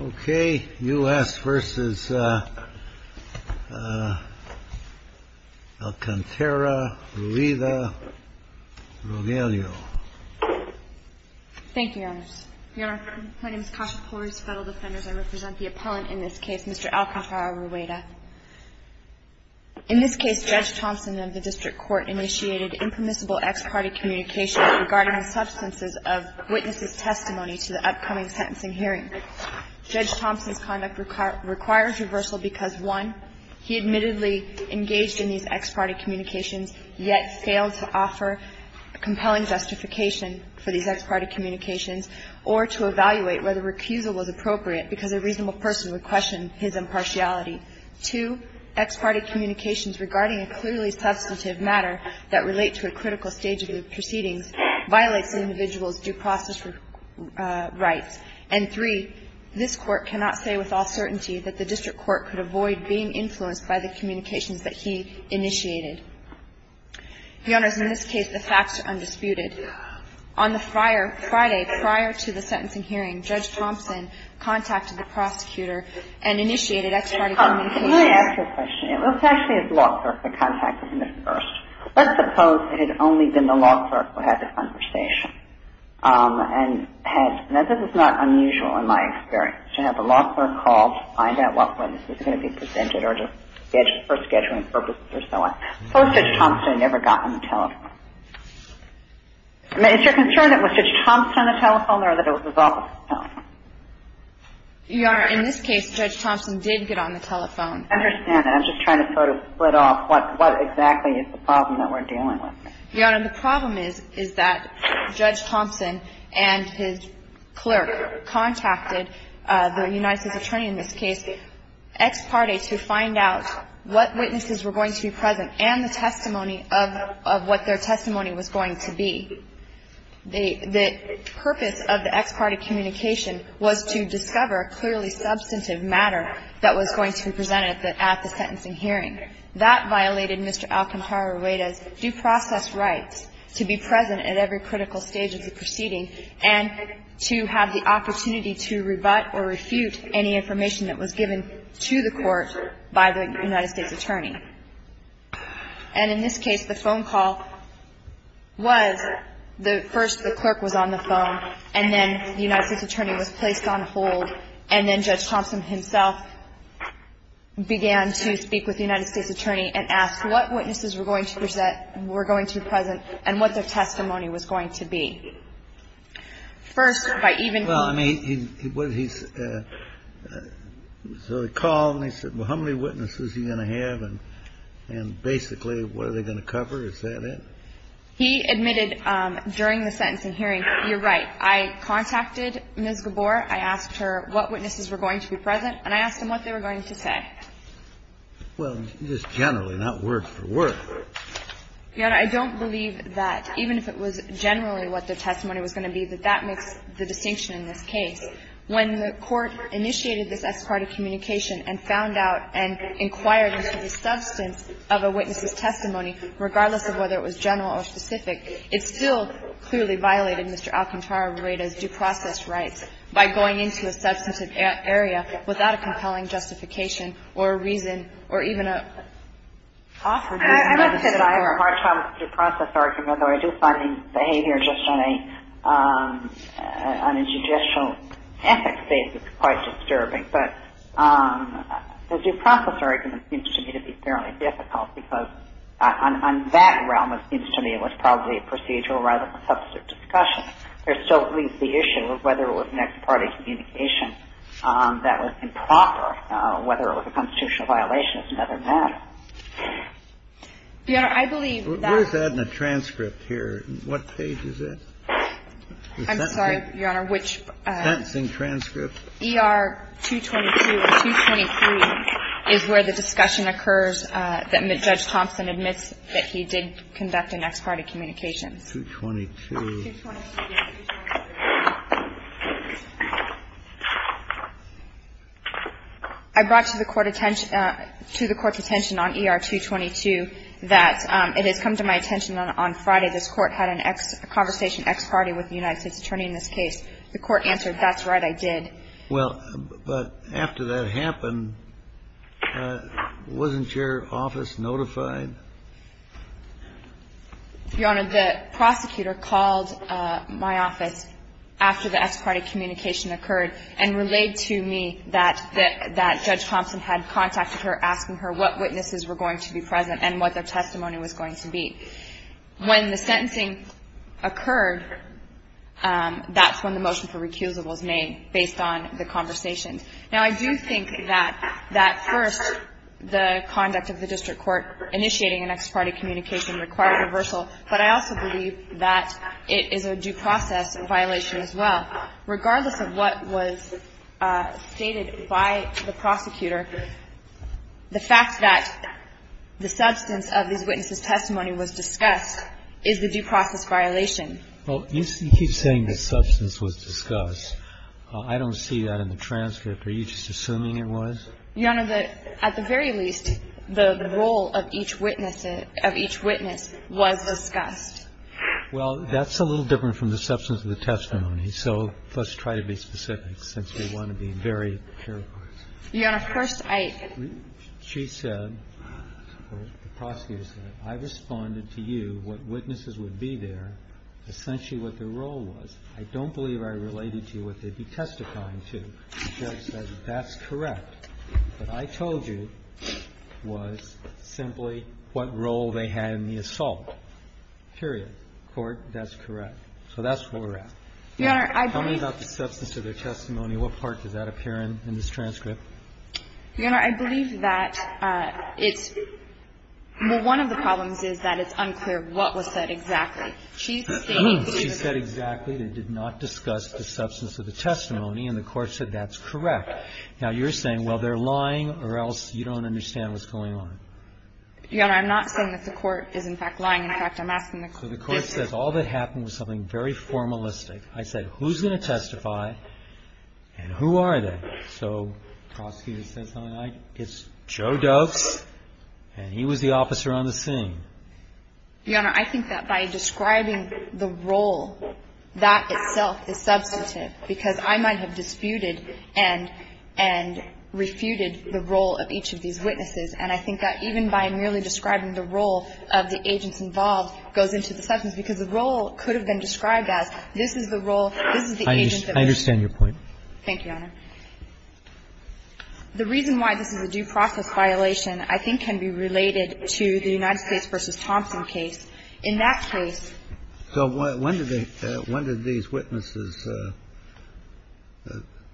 Okay, U.S. v. Alcantara-Rueda. Thank you, Your Honor. Your Honor, my name is Kasia Kores, federal defender. I represent the appellant in this case, Mr. Alcantara-Rueda. In this case, Judge Thompson of the District Court initiated impermissible ex parte communication regarding the substances of witnesses' testimony to the upcoming sentencing hearing. Judge Thompson's conduct requires reversal because, one, he admittedly engaged in these ex parte communications, yet failed to offer compelling justification for these ex parte communications or to evaluate whether recusal was appropriate because a reasonable person would question his impartiality. Two, ex parte communications regarding a clearly substantive matter that relate to a critical stage of the proceedings violates an individual's due process rights. And, three, this Court cannot say with all certainty that the District Court could avoid being influenced by the communications that he initiated. Your Honors, in this case, the facts are undisputed. On the Friday prior to the sentencing hearing, Judge Thompson contacted the prosecutor and initiated ex parte communications. Let me ask you a question. It was actually his law clerk that contacted him first. Let's suppose it had only been the law clerk who had the conversation and had – now, this is not unusual in my experience to have a law clerk call to find out whether this was going to be presented or just for scheduling purposes or so on. Suppose Judge Thompson never got on the telephone. Is your concern that it was Judge Thompson on the telephone or that it was his office on the telephone? Your Honor, in this case, Judge Thompson did get on the telephone. I understand. I'm just trying to sort of split off what exactly is the problem that we're dealing with. Your Honor, the problem is that Judge Thompson and his clerk contacted the United States Attorney in this case, ex parte, to find out what witnesses were going to be present and the testimony of what their testimony was going to be. The purpose of the ex parte communication was to discover a clearly substantive matter that was going to be presented at the sentencing hearing. That violated Mr. Alcantara-Rueda's due process rights to be present at every critical stage of the proceeding and to have the opportunity to rebut or refute any information that was given to the court by the United States Attorney. And in this case, the phone call was, first the clerk was on the phone and then the United States Attorney was placed on hold and then Judge Thompson himself began to speak with the United States Attorney and ask what witnesses were going to be present and what their testimony was going to be. First, by even... So he called and he said, well, how many witnesses is he going to have and basically what are they going to cover, is that it? He admitted during the sentencing hearing, you're right, I contacted Ms. Gabor, I asked her what witnesses were going to be present, and I asked him what they were going to say. Well, just generally, not word for word. Your Honor, I don't believe that even if it was generally what the testimony was going to be, that that makes the distinction in this case. When the court initiated this ex parte communication and found out and inquired into the substance of a witness's testimony, regardless of whether it was general or specific, it still clearly violated Mr. Alcantara-Rueda's due process rights by going into a substantive area without a compelling justification or a reason or even a... I must say that I have a hard time with the due process argument, although I do find the behavior just on a judicial ethics basis quite disturbing. But the due process argument seems to me to be fairly difficult because on that realm, it seems to me it was probably a procedural rather than substantive discussion. There's still at least the issue of whether it was an ex parte communication that was improper, whether it was a constitutional violation. It's never done. You know, I believe that... We're just adding a transcript here. What page is it? I'm sorry, Your Honor, which... Sentencing transcript. ER-222 or 223 is where the discussion occurs that Judge Thompson admits that he did conduct an ex parte communication. 222. I brought to the Court's attention on ER-222 that it has come to my attention on Friday this Court had a conversation ex parte with the United States Attorney in this case. The Court answered, that's right, I did. Well, but after that happened, wasn't your office notified? Your Honor, the prosecutor called my office after the ex parte communication occurred and relayed to me that Judge Thompson had contacted her asking her what witnesses were going to be present and what their testimony was going to be. When the sentencing occurred, that's when the motion for recusal was made based on the conversation. Now, I do think that first the conduct of the district court initiating an ex parte communication required reversal, but I also believe that it is a due process violation as well. Regardless of what was stated by the prosecutor, the fact that the substance of these witnesses' testimony was discussed is the due process violation. I don't see that in the transcript. Are you just assuming it was? Your Honor, at the very least, the role of each witness was discussed. Well, that's a little different from the substance of the testimony, so let's try to be specific since we want to be very careful. Your Honor, first I ---- She said, or the prosecutor said, I responded to you what witnesses would be there, essentially what their role was. I don't believe I related to you what they'd be testifying to. The judge said, that's correct. What I told you was simply what role they had in the assault, period. Court, that's correct. So that's where we're at. Your Honor, I believe ---- Tell me about the substance of their testimony. What part does that appear in in this transcript? Your Honor, I believe that it's ---- well, one of the problems is that it's unclear what was said exactly. She's stating ---- She said exactly they did not discuss the substance of the testimony, and the Court said that's correct. Now, you're saying, well, they're lying, or else you don't understand what's going on. Your Honor, I'm not saying that the Court is, in fact, lying. In fact, I'm asking the ---- So the Court says all that happened was something very formalistic. I said, who's going to testify, and who are they? So the prosecutor says, it's Joe Doves, and he was the officer on the scene. Your Honor, I think that by describing the role, that itself is substantive, because I might have disputed and refuted the role of each of these witnesses. And I think that even by merely describing the role of the agents involved goes into the substance, because the role could have been described as, this is the role, this is the agent that was ---- I understand your point. Thank you, Your Honor. The reason why this is a due process violation I think can be related to the United States Attorney's case. In that case ---- So when did these witnesses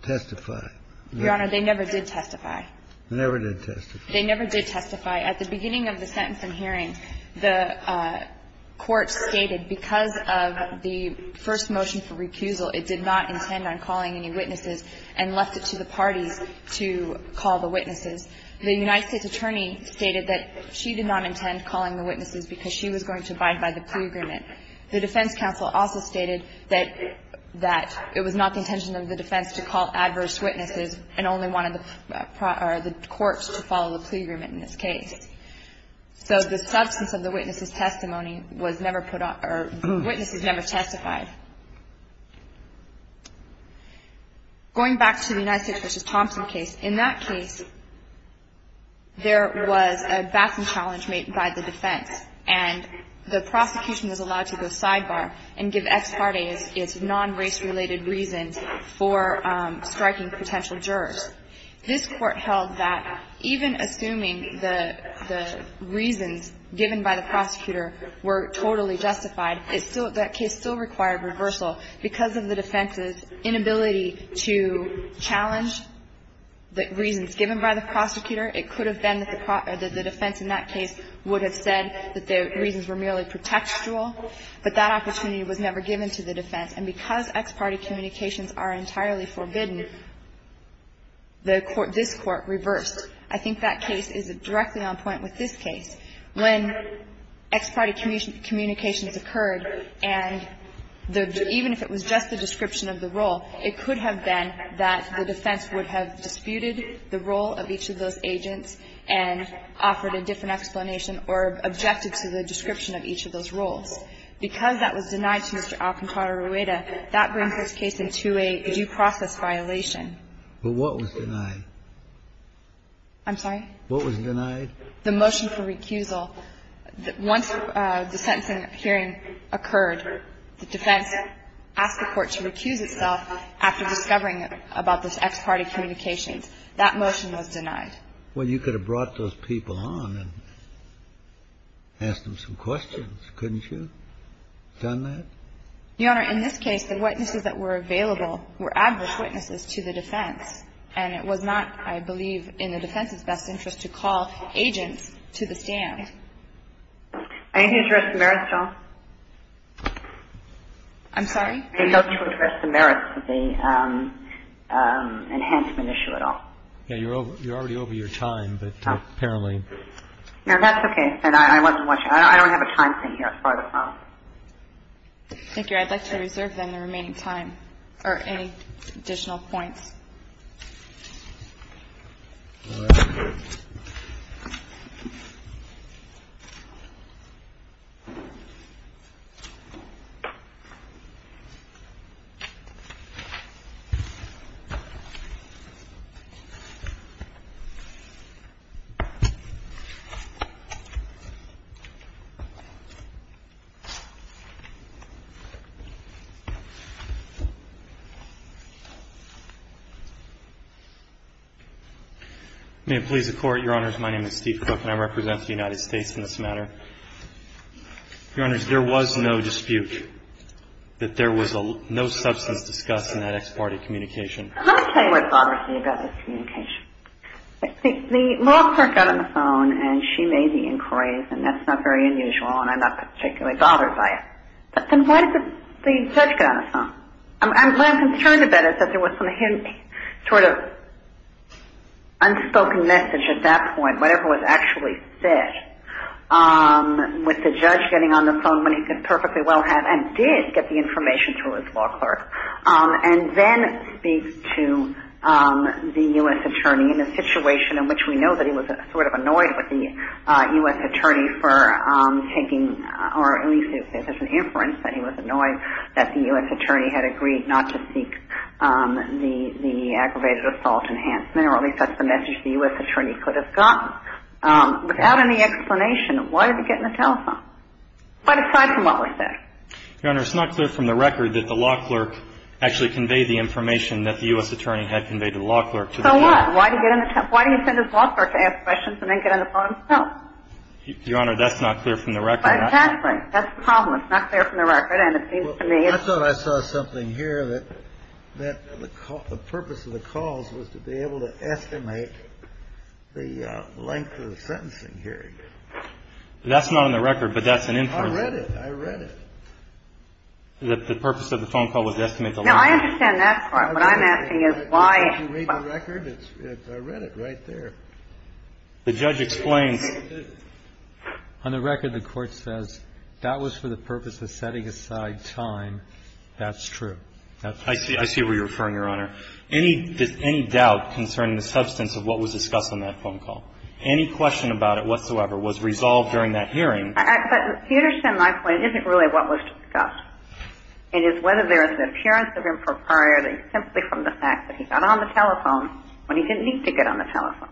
testify? Your Honor, they never did testify. They never did testify. They never did testify. At the beginning of the sentence in hearing, the Court stated because of the first motion for recusal, it did not intend on calling any witnesses and left it to the parties to call the witnesses. The United States Attorney stated that she did not intend calling the witnesses because she was going to abide by the plea agreement. The defense counsel also stated that it was not the intention of the defense to call adverse witnesses and only wanted the courts to follow the plea agreement in this case. So the substance of the witnesses' testimony was never put on or the witnesses never testified. Going back to the United States v. Thompson case, in that case, there was a baffling challenge made by the defense. And the prosecution was allowed to go sidebar and give ex parte its non-race-related reasons for striking potential jurors. This Court held that even assuming the reasons given by the prosecutor were totally justified, that case still required reversal. Because of the defense's inability to challenge the reasons given by the prosecutor, it could have been that the defense in that case would have said that the reasons were merely pretextual, but that opportunity was never given to the defense. And because ex parte communications are entirely forbidden, this Court reversed. I think that case is directly on point with this case. When ex parte communications occurred, and even if it was just the description of the role, it could have been that the defense would have disputed the role of each of those agents and offered a different explanation or objected to the description of each of those roles. Because that was denied to Mr. Alcantara-Rueda, that brings this case into a due process violation. But what was denied? I'm sorry? What was denied? The motion for recusal. Once the sentencing hearing occurred, the defense asked the Court to recuse itself after discovering about this ex parte communications. That motion was denied. Well, you could have brought those people on and asked them some questions, couldn't you? Done that? Your Honor, in this case, the witnesses that were available were adverse witnesses to the defense. And it was not, I believe, in the defense's best interest to call agents to the stand. Anything to address the merits, Jill? I'm sorry? Anything to address the merits of the enhancement issue at all? Yeah, you're already over your time, but apparently. No, that's okay. And I wasn't watching. I don't have a time thing here. Thank you. I'd like to reserve, then, the remaining time or any additional points. All right. May it please the Court? Your Honors, my name is Steve Cook, and I represent the United States in this matter. Your Honors, there was no dispute that there was no substance discussed in that ex parte communication. Let me tell you what bothers me about this communication. The law clerk got on the phone, and she made the inquiries, and that's not very unusual, and I'm not particularly bothered by it. But then why did the judge get on the phone? What I'm concerned about is that there was some sort of unspoken message at that point, whatever was actually said, with the judge getting on the phone when he could perfectly well have and did get the information to his law clerk, and then speak to the U.S. attorney in a situation in which we know that he was sort of annoyed with the U.S. attorney for taking, or at least there's an inference that he was annoyed that the U.S. attorney had agreed not to seek the aggravated assault enhancement, or at least that's the message the U.S. attorney could have gotten. Without any explanation, why did he get on the telephone? Quite aside from what was said. Your Honor, it's not clear from the record that the law clerk actually conveyed the information that the U.S. attorney had conveyed to the law clerk. So what? Why did he get on the telephone? Why did he send his law clerk to ask questions and then get on the phone and tell? Your Honor, that's not clear from the record. That's the problem. It's not clear from the record. I thought I saw something here that the purpose of the calls was to be able to estimate the length of the sentencing hearing. That's not on the record, but that's an inference. I read it. I read it. The purpose of the phone call was to estimate the length. No, I understand that part. What I'm asking is why. Did you read the record? I read it right there. The judge explains. On the record, the Court says that was for the purpose of setting aside time. That's true. I see where you're referring, Your Honor. Any doubt concerning the substance of what was discussed on that phone call, any question about it whatsoever was resolved during that hearing. But to understand my point, it isn't really what was discussed. It is whether there is an appearance of impropriety simply from the fact that he got on the telephone when he didn't need to get on the telephone.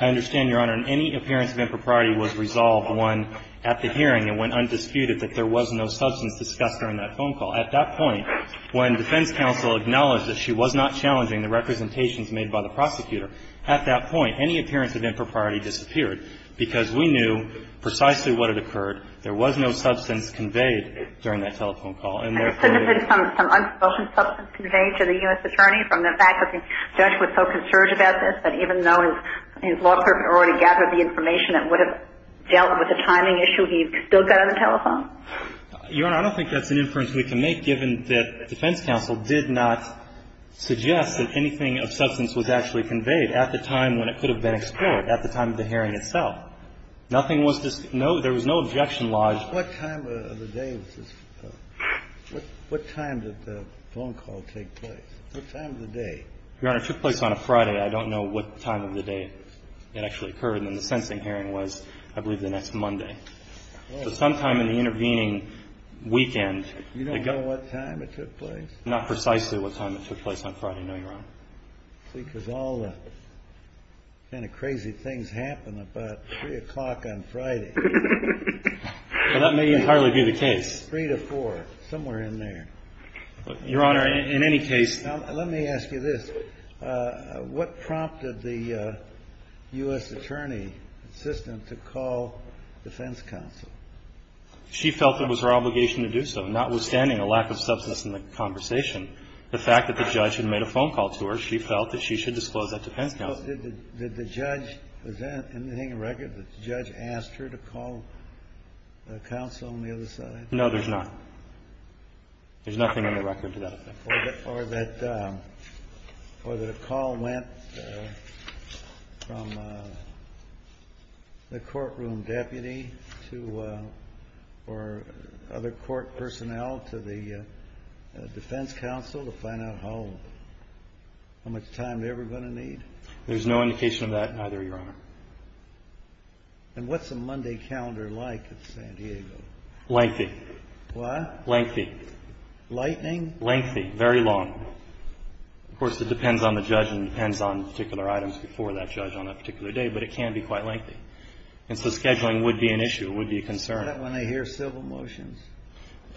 I understand, Your Honor. Any appearance of impropriety was resolved when, at the hearing and when undisputed, that there was no substance discussed during that phone call. At that point, when defense counsel acknowledged that she was not challenging the representations made by the prosecutor, at that point, any appearance of impropriety disappeared because we knew precisely what had occurred. There was no substance conveyed during that telephone call. And there could have been some unsubstantial substance conveyed to the U.S. attorney from the fact that the judge was so concerned about this that even though his law clerk had already gathered the information that would have dealt with the timing issue, he still got on the telephone? Your Honor, I don't think that's an inference we can make, given that defense counsel did not suggest that anything of substance was actually conveyed at the time when it could have been explored, at the time of the hearing itself. Nothing was discussed. No, there was no objection lodged. What time of the day was this? What time did the phone call take place? What time of the day? Your Honor, it took place on a Friday. I don't know what time of the day it actually occurred. And then the sentencing hearing was, I believe, the next Monday. So sometime in the intervening weekend. You don't know what time it took place? Not precisely what time it took place on Friday, no, Your Honor. See, because all the kind of crazy things happen about 3 o'clock on Friday. Well, that may entirely be the case. 3 to 4, somewhere in there. Your Honor, in any case. Now, let me ask you this. What prompted the U.S. attorney assistant to call defense counsel? She felt it was her obligation to do so. Notwithstanding a lack of substance in the conversation, the fact that the judge had made a phone call to her, she felt that she should disclose that to defense counsel. Well, did the judge present anything in record that the judge asked her to call counsel on the other side? No, there's not. There's nothing in the record to that effect. Or that a call went from the courtroom deputy or other court personnel to the defense counsel? No, Your Honor. There's no indication of that either, Your Honor. And what's a Monday calendar like at San Diego? Lengthy. What? Lengthy. Lightning? Lengthy. Very long. Of course, it depends on the judge and depends on particular items before that judge on that particular day, but it can be quite lengthy. And so scheduling would be an issue, would be a concern. Is that when they hear civil motions?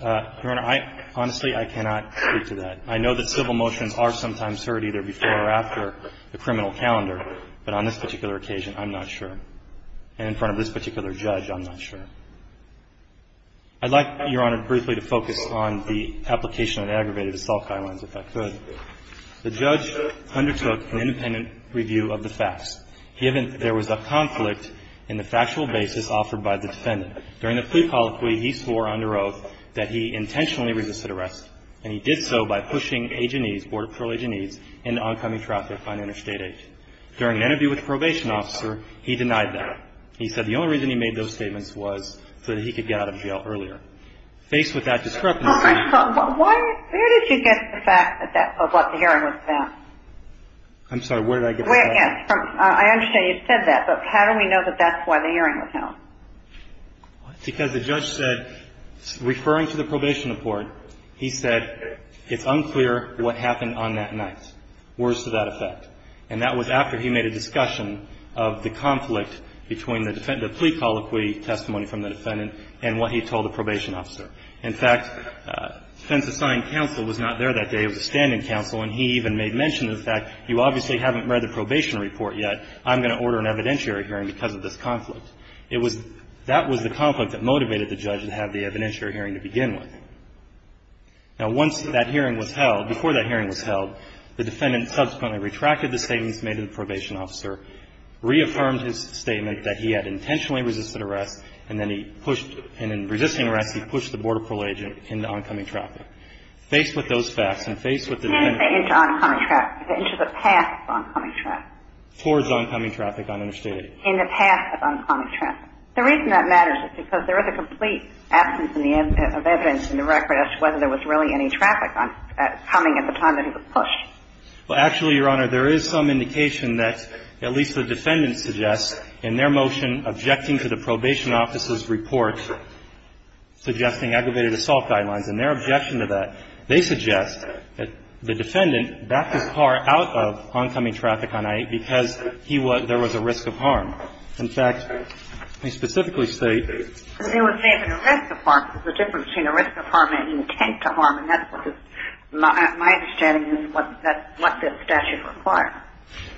Your Honor, honestly, I cannot speak to that. I know that civil motions are sometimes heard either before or after the criminal calendar, but on this particular occasion, I'm not sure. And in front of this particular judge, I'm not sure. I'd like, Your Honor, briefly to focus on the application of the aggravated assault guidelines, if I could. The judge undertook an independent review of the facts, given there was a conflict in the factual basis offered by the defendant. During the plea colloquy, he swore under oath that he intentionally resisted the arrest, and he did so by pushing agenies, Border Patrol agenies, into oncoming traffic on interstate 8. During an interview with the probation officer, he denied that. He said the only reason he made those statements was so that he could get out of jail earlier. Faced with that discrepancy ---- Why? Where did you get the fact that that's what the hearing was about? I'm sorry. Where did I get that? Yes. I understand you said that, but how do we know that that's why the hearing was held? Because the judge said, referring to the probation report, he said, it's unclear what happened on that night. Words to that effect. And that was after he made a discussion of the conflict between the plea colloquy testimony from the defendant and what he told the probation officer. In fact, defense-assigned counsel was not there that day. It was a standing counsel, and he even made mention of the fact, you obviously haven't read the probation report yet. I'm going to order an evidentiary hearing because of this conflict. It was ---- that was the conflict that motivated the judge to have the evidentiary hearing to begin with. Now, once that hearing was held, before that hearing was held, the defendant subsequently retracted the statements made to the probation officer, reaffirmed his statement that he had intentionally resisted arrest, and then he pushed ---- and in resisting arrest, he pushed the Border Patrol agent into oncoming traffic. Faced with those facts and faced with the defendant ---- Into oncoming traffic. Into the path of oncoming traffic. Towards oncoming traffic on interstate. In the path of oncoming traffic. The reason that matters is because there is a complete absence in the evidence in the record as to whether there was really any traffic coming at the time that he was pushed. Well, actually, Your Honor, there is some indication that at least the defendant suggests in their motion objecting to the probation officer's report suggesting aggravated assault guidelines. In their objection to that, they suggest that the defendant backed his car out of oncoming traffic on it because he was ---- there was a risk of harm. In fact, they specifically state ---- There was even a risk of harm. There's a difference between a risk of harm and intent to harm, and that's what this ---- my understanding is what this statute requires.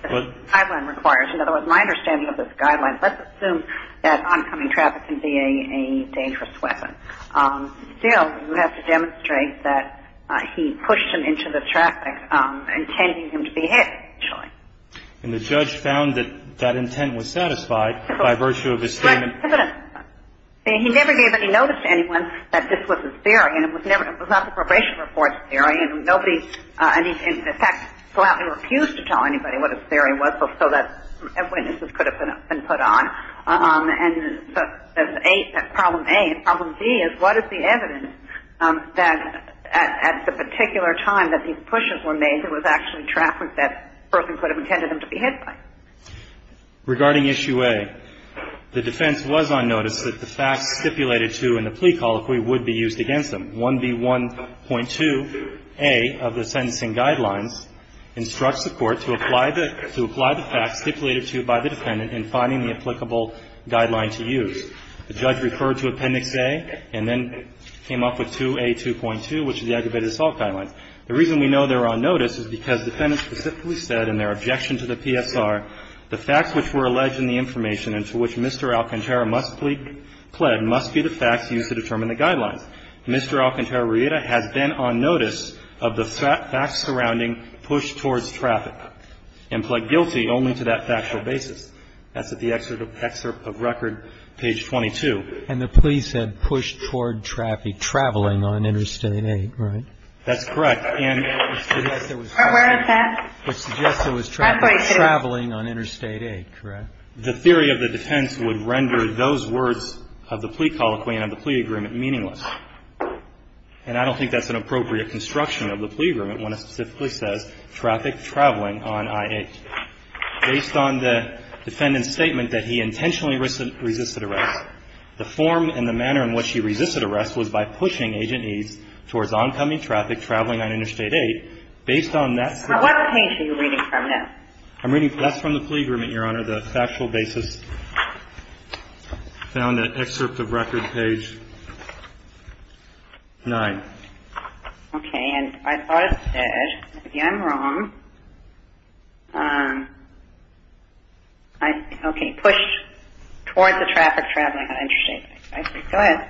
What? The guideline requires. In other words, my understanding of this guideline, let's assume that oncoming traffic can be a dangerous weapon. Still, you have to demonstrate that he pushed him into the traffic, intending him to be hit, actually. And the judge found that that intent was satisfied by virtue of his statement. He never gave any notice to anyone that this was a theory. And it was never ---- it was not the probation report's theory. And nobody, in fact, flatly refused to tell anybody what his theory was, so that witnesses could have been put on. And so that's problem A. And problem B is what is the evidence that at the particular time that these pushes were made that was actually traffic that person could have intended him to be hit by? Regarding issue A, the defense was on notice that the facts stipulated to in the plea colloquy would be used against him. 1B1.2a of the sentencing guidelines instructs the court to apply the facts stipulated to by the defendant in finding the applicable guideline to use. The judge referred to Appendix A and then came up with 2A2.2, which is the aggravated assault guidelines. The reason we know they're on notice is because the defendant specifically said in their objection to the PSR, the facts which were alleged in the information and to which Mr. Alcantara must plead, must be the facts used to determine the guidelines. Mr. Alcantara Riera has been on notice of the facts surrounding push towards traffic and pled guilty only to that factual basis. That's at the excerpt of record, page 22. And the plea said push toward traffic traveling on Interstate 8, right? That's correct. And it suggests there was traffic traveling on Interstate 8, correct? The theory of the defense would render those words of the plea colloquy and of the plea agreement meaningless. And I don't think that's an appropriate construction of the plea agreement when it specifically says traffic traveling on I-8. Based on the defendant's statement that he intentionally resisted arrest, the form and the manner in which he resisted arrest was by pushing Agent E's towards oncoming traffic traveling on Interstate 8. Based on that. What page are you reading from now? I'm reading, that's from the plea agreement, Your Honor, the factual basis. I found that excerpt of record, page 9. Okay. And I thought it said, if I'm wrong, okay, push towards the traffic traveling on Interstate 8. Go ahead.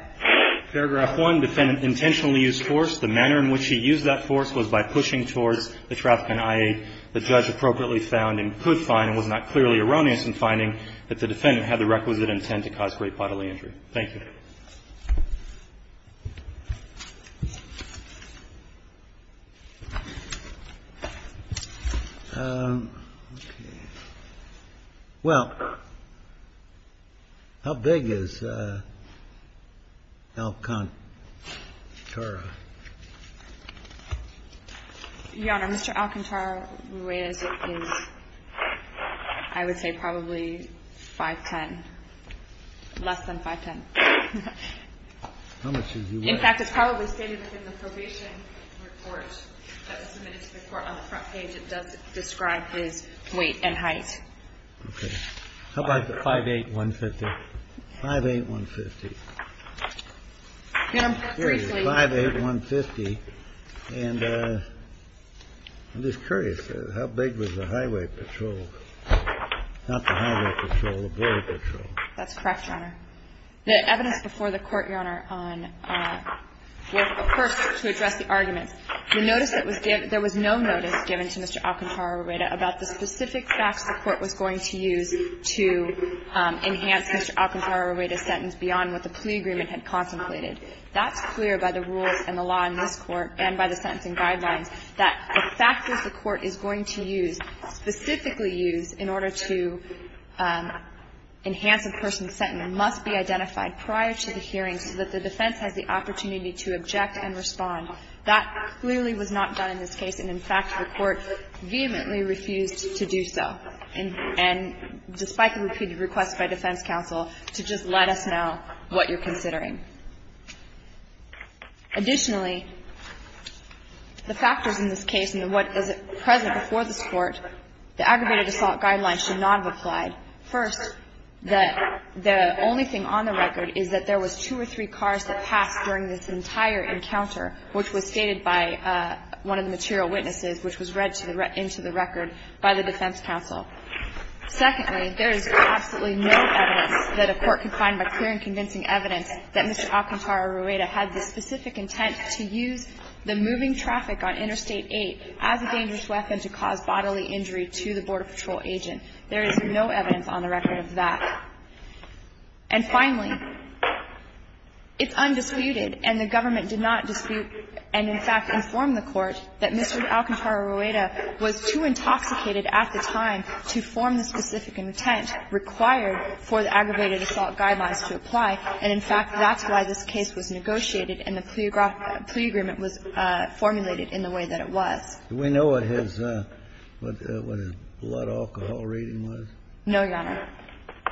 Paragraph 1, defendant intentionally used force. The manner in which he used that force was by pushing towards the traffic on I-8. The judge appropriately found and could find and was not clearly erroneous in finding that the defendant had the requisite intent to cause great bodily injury. Thank you. Well, how big is Alcantara? Your Honor, Mr. Alcantara is, I would say, probably 5'10", less than 5'10". In fact, it's probably stated in the probation report that was submitted to the court. On the front page, it does describe his weight and height. Okay. How about the 5'8", 150? 5'8", 150. 5'8", 150. And I'm just curious, how big was the highway patrol? That's correct, Your Honor. The evidence before the Court, Your Honor, on the first to address the argument, the notice that was given, there was no notice given to Mr. Alcantara-Rueda about the specific facts the Court was going to use to enhance Mr. Alcantara-Rueda's sentence beyond what the plea agreement had contemplated. That's clear by the rules and the law in this Court and by the sentencing guidelines that the factors the Court is going to use, specifically use in order to enhance a person's sentence, must be identified prior to the hearing so that the defense has the opportunity to object and respond. That clearly was not done in this case. And, in fact, the Court vehemently refused to do so. And despite the repeated requests by defense counsel to just let us know what you're considering. Additionally, the factors in this case and what is present before this Court, the aggravated assault guidelines should not have applied. First, the only thing on the record is that there was two or three cars that passed during this entire encounter, which was stated by one of the material witnesses, which was read into the record by the defense counsel. Secondly, there is absolutely no evidence that a court could find by clear and convincing evidence that Mr. Alcantara-Rueda had the specific intent to use the moving traffic on Interstate 8 as a dangerous weapon to cause bodily injury to the Border Patrol agent. There is no evidence on the record of that. And finally, it's undisputed and the government did not dispute and, in fact, inform the Court that Mr. Alcantara-Rueda was too intoxicated at the time to form the specific intent required for the aggravated assault guidelines to apply. And, in fact, that's why this case was negotiated and the plea agreement was formulated in the way that it was. Do we know what his blood alcohol rating was? No, Your Honor.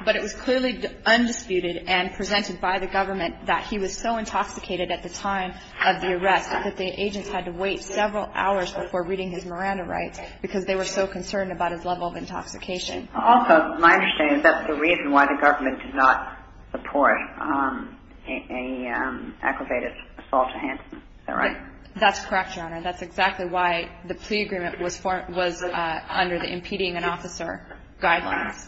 But it was clearly undisputed and presented by the government that he was so intoxicated at the time of the arrest that the agents had to wait several hours before reading his Miranda rights because they were so concerned about his level of intoxication. Also, my understanding is that's the reason why the government did not support an aggravated assault to hand. Is that right? That's correct, Your Honor. That's exactly why the plea agreement was under the impeding an officer guidelines.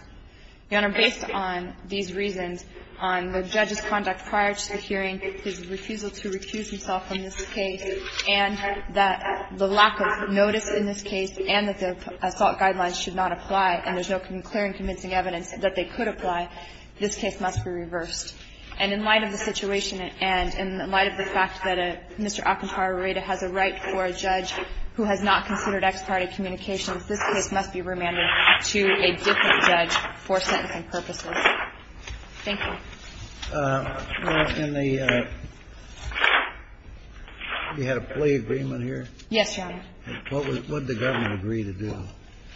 Your Honor, based on these reasons, on the judge's conduct prior to the hearing, his refusal to recuse himself from this case, and that the lack of notice in this case and that the assault guidelines should not apply and there's no clear and convincing evidence that they could apply, this case must be reversed. And in light of the situation and in light of the fact that Mr. Alcantara Rueda has a right for a judge who has not considered ex parte communications, this case must be remanded to a different judge for sentencing purposes. Thank you. Well, in the you had a plea agreement here? Yes, Your Honor. What would the government agree to do?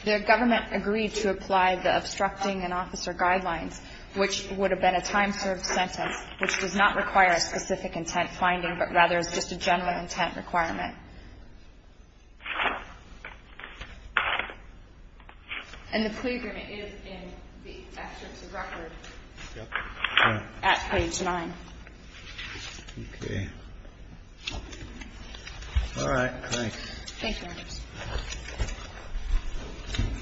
The government agreed to apply the obstructing an officer guidelines, which would have been a time-served sentence, which does not require a specific intent finding, but rather is just a general intent requirement. And the plea agreement is in the records at page 9. Okay. Thanks. Thank you, Your Honor.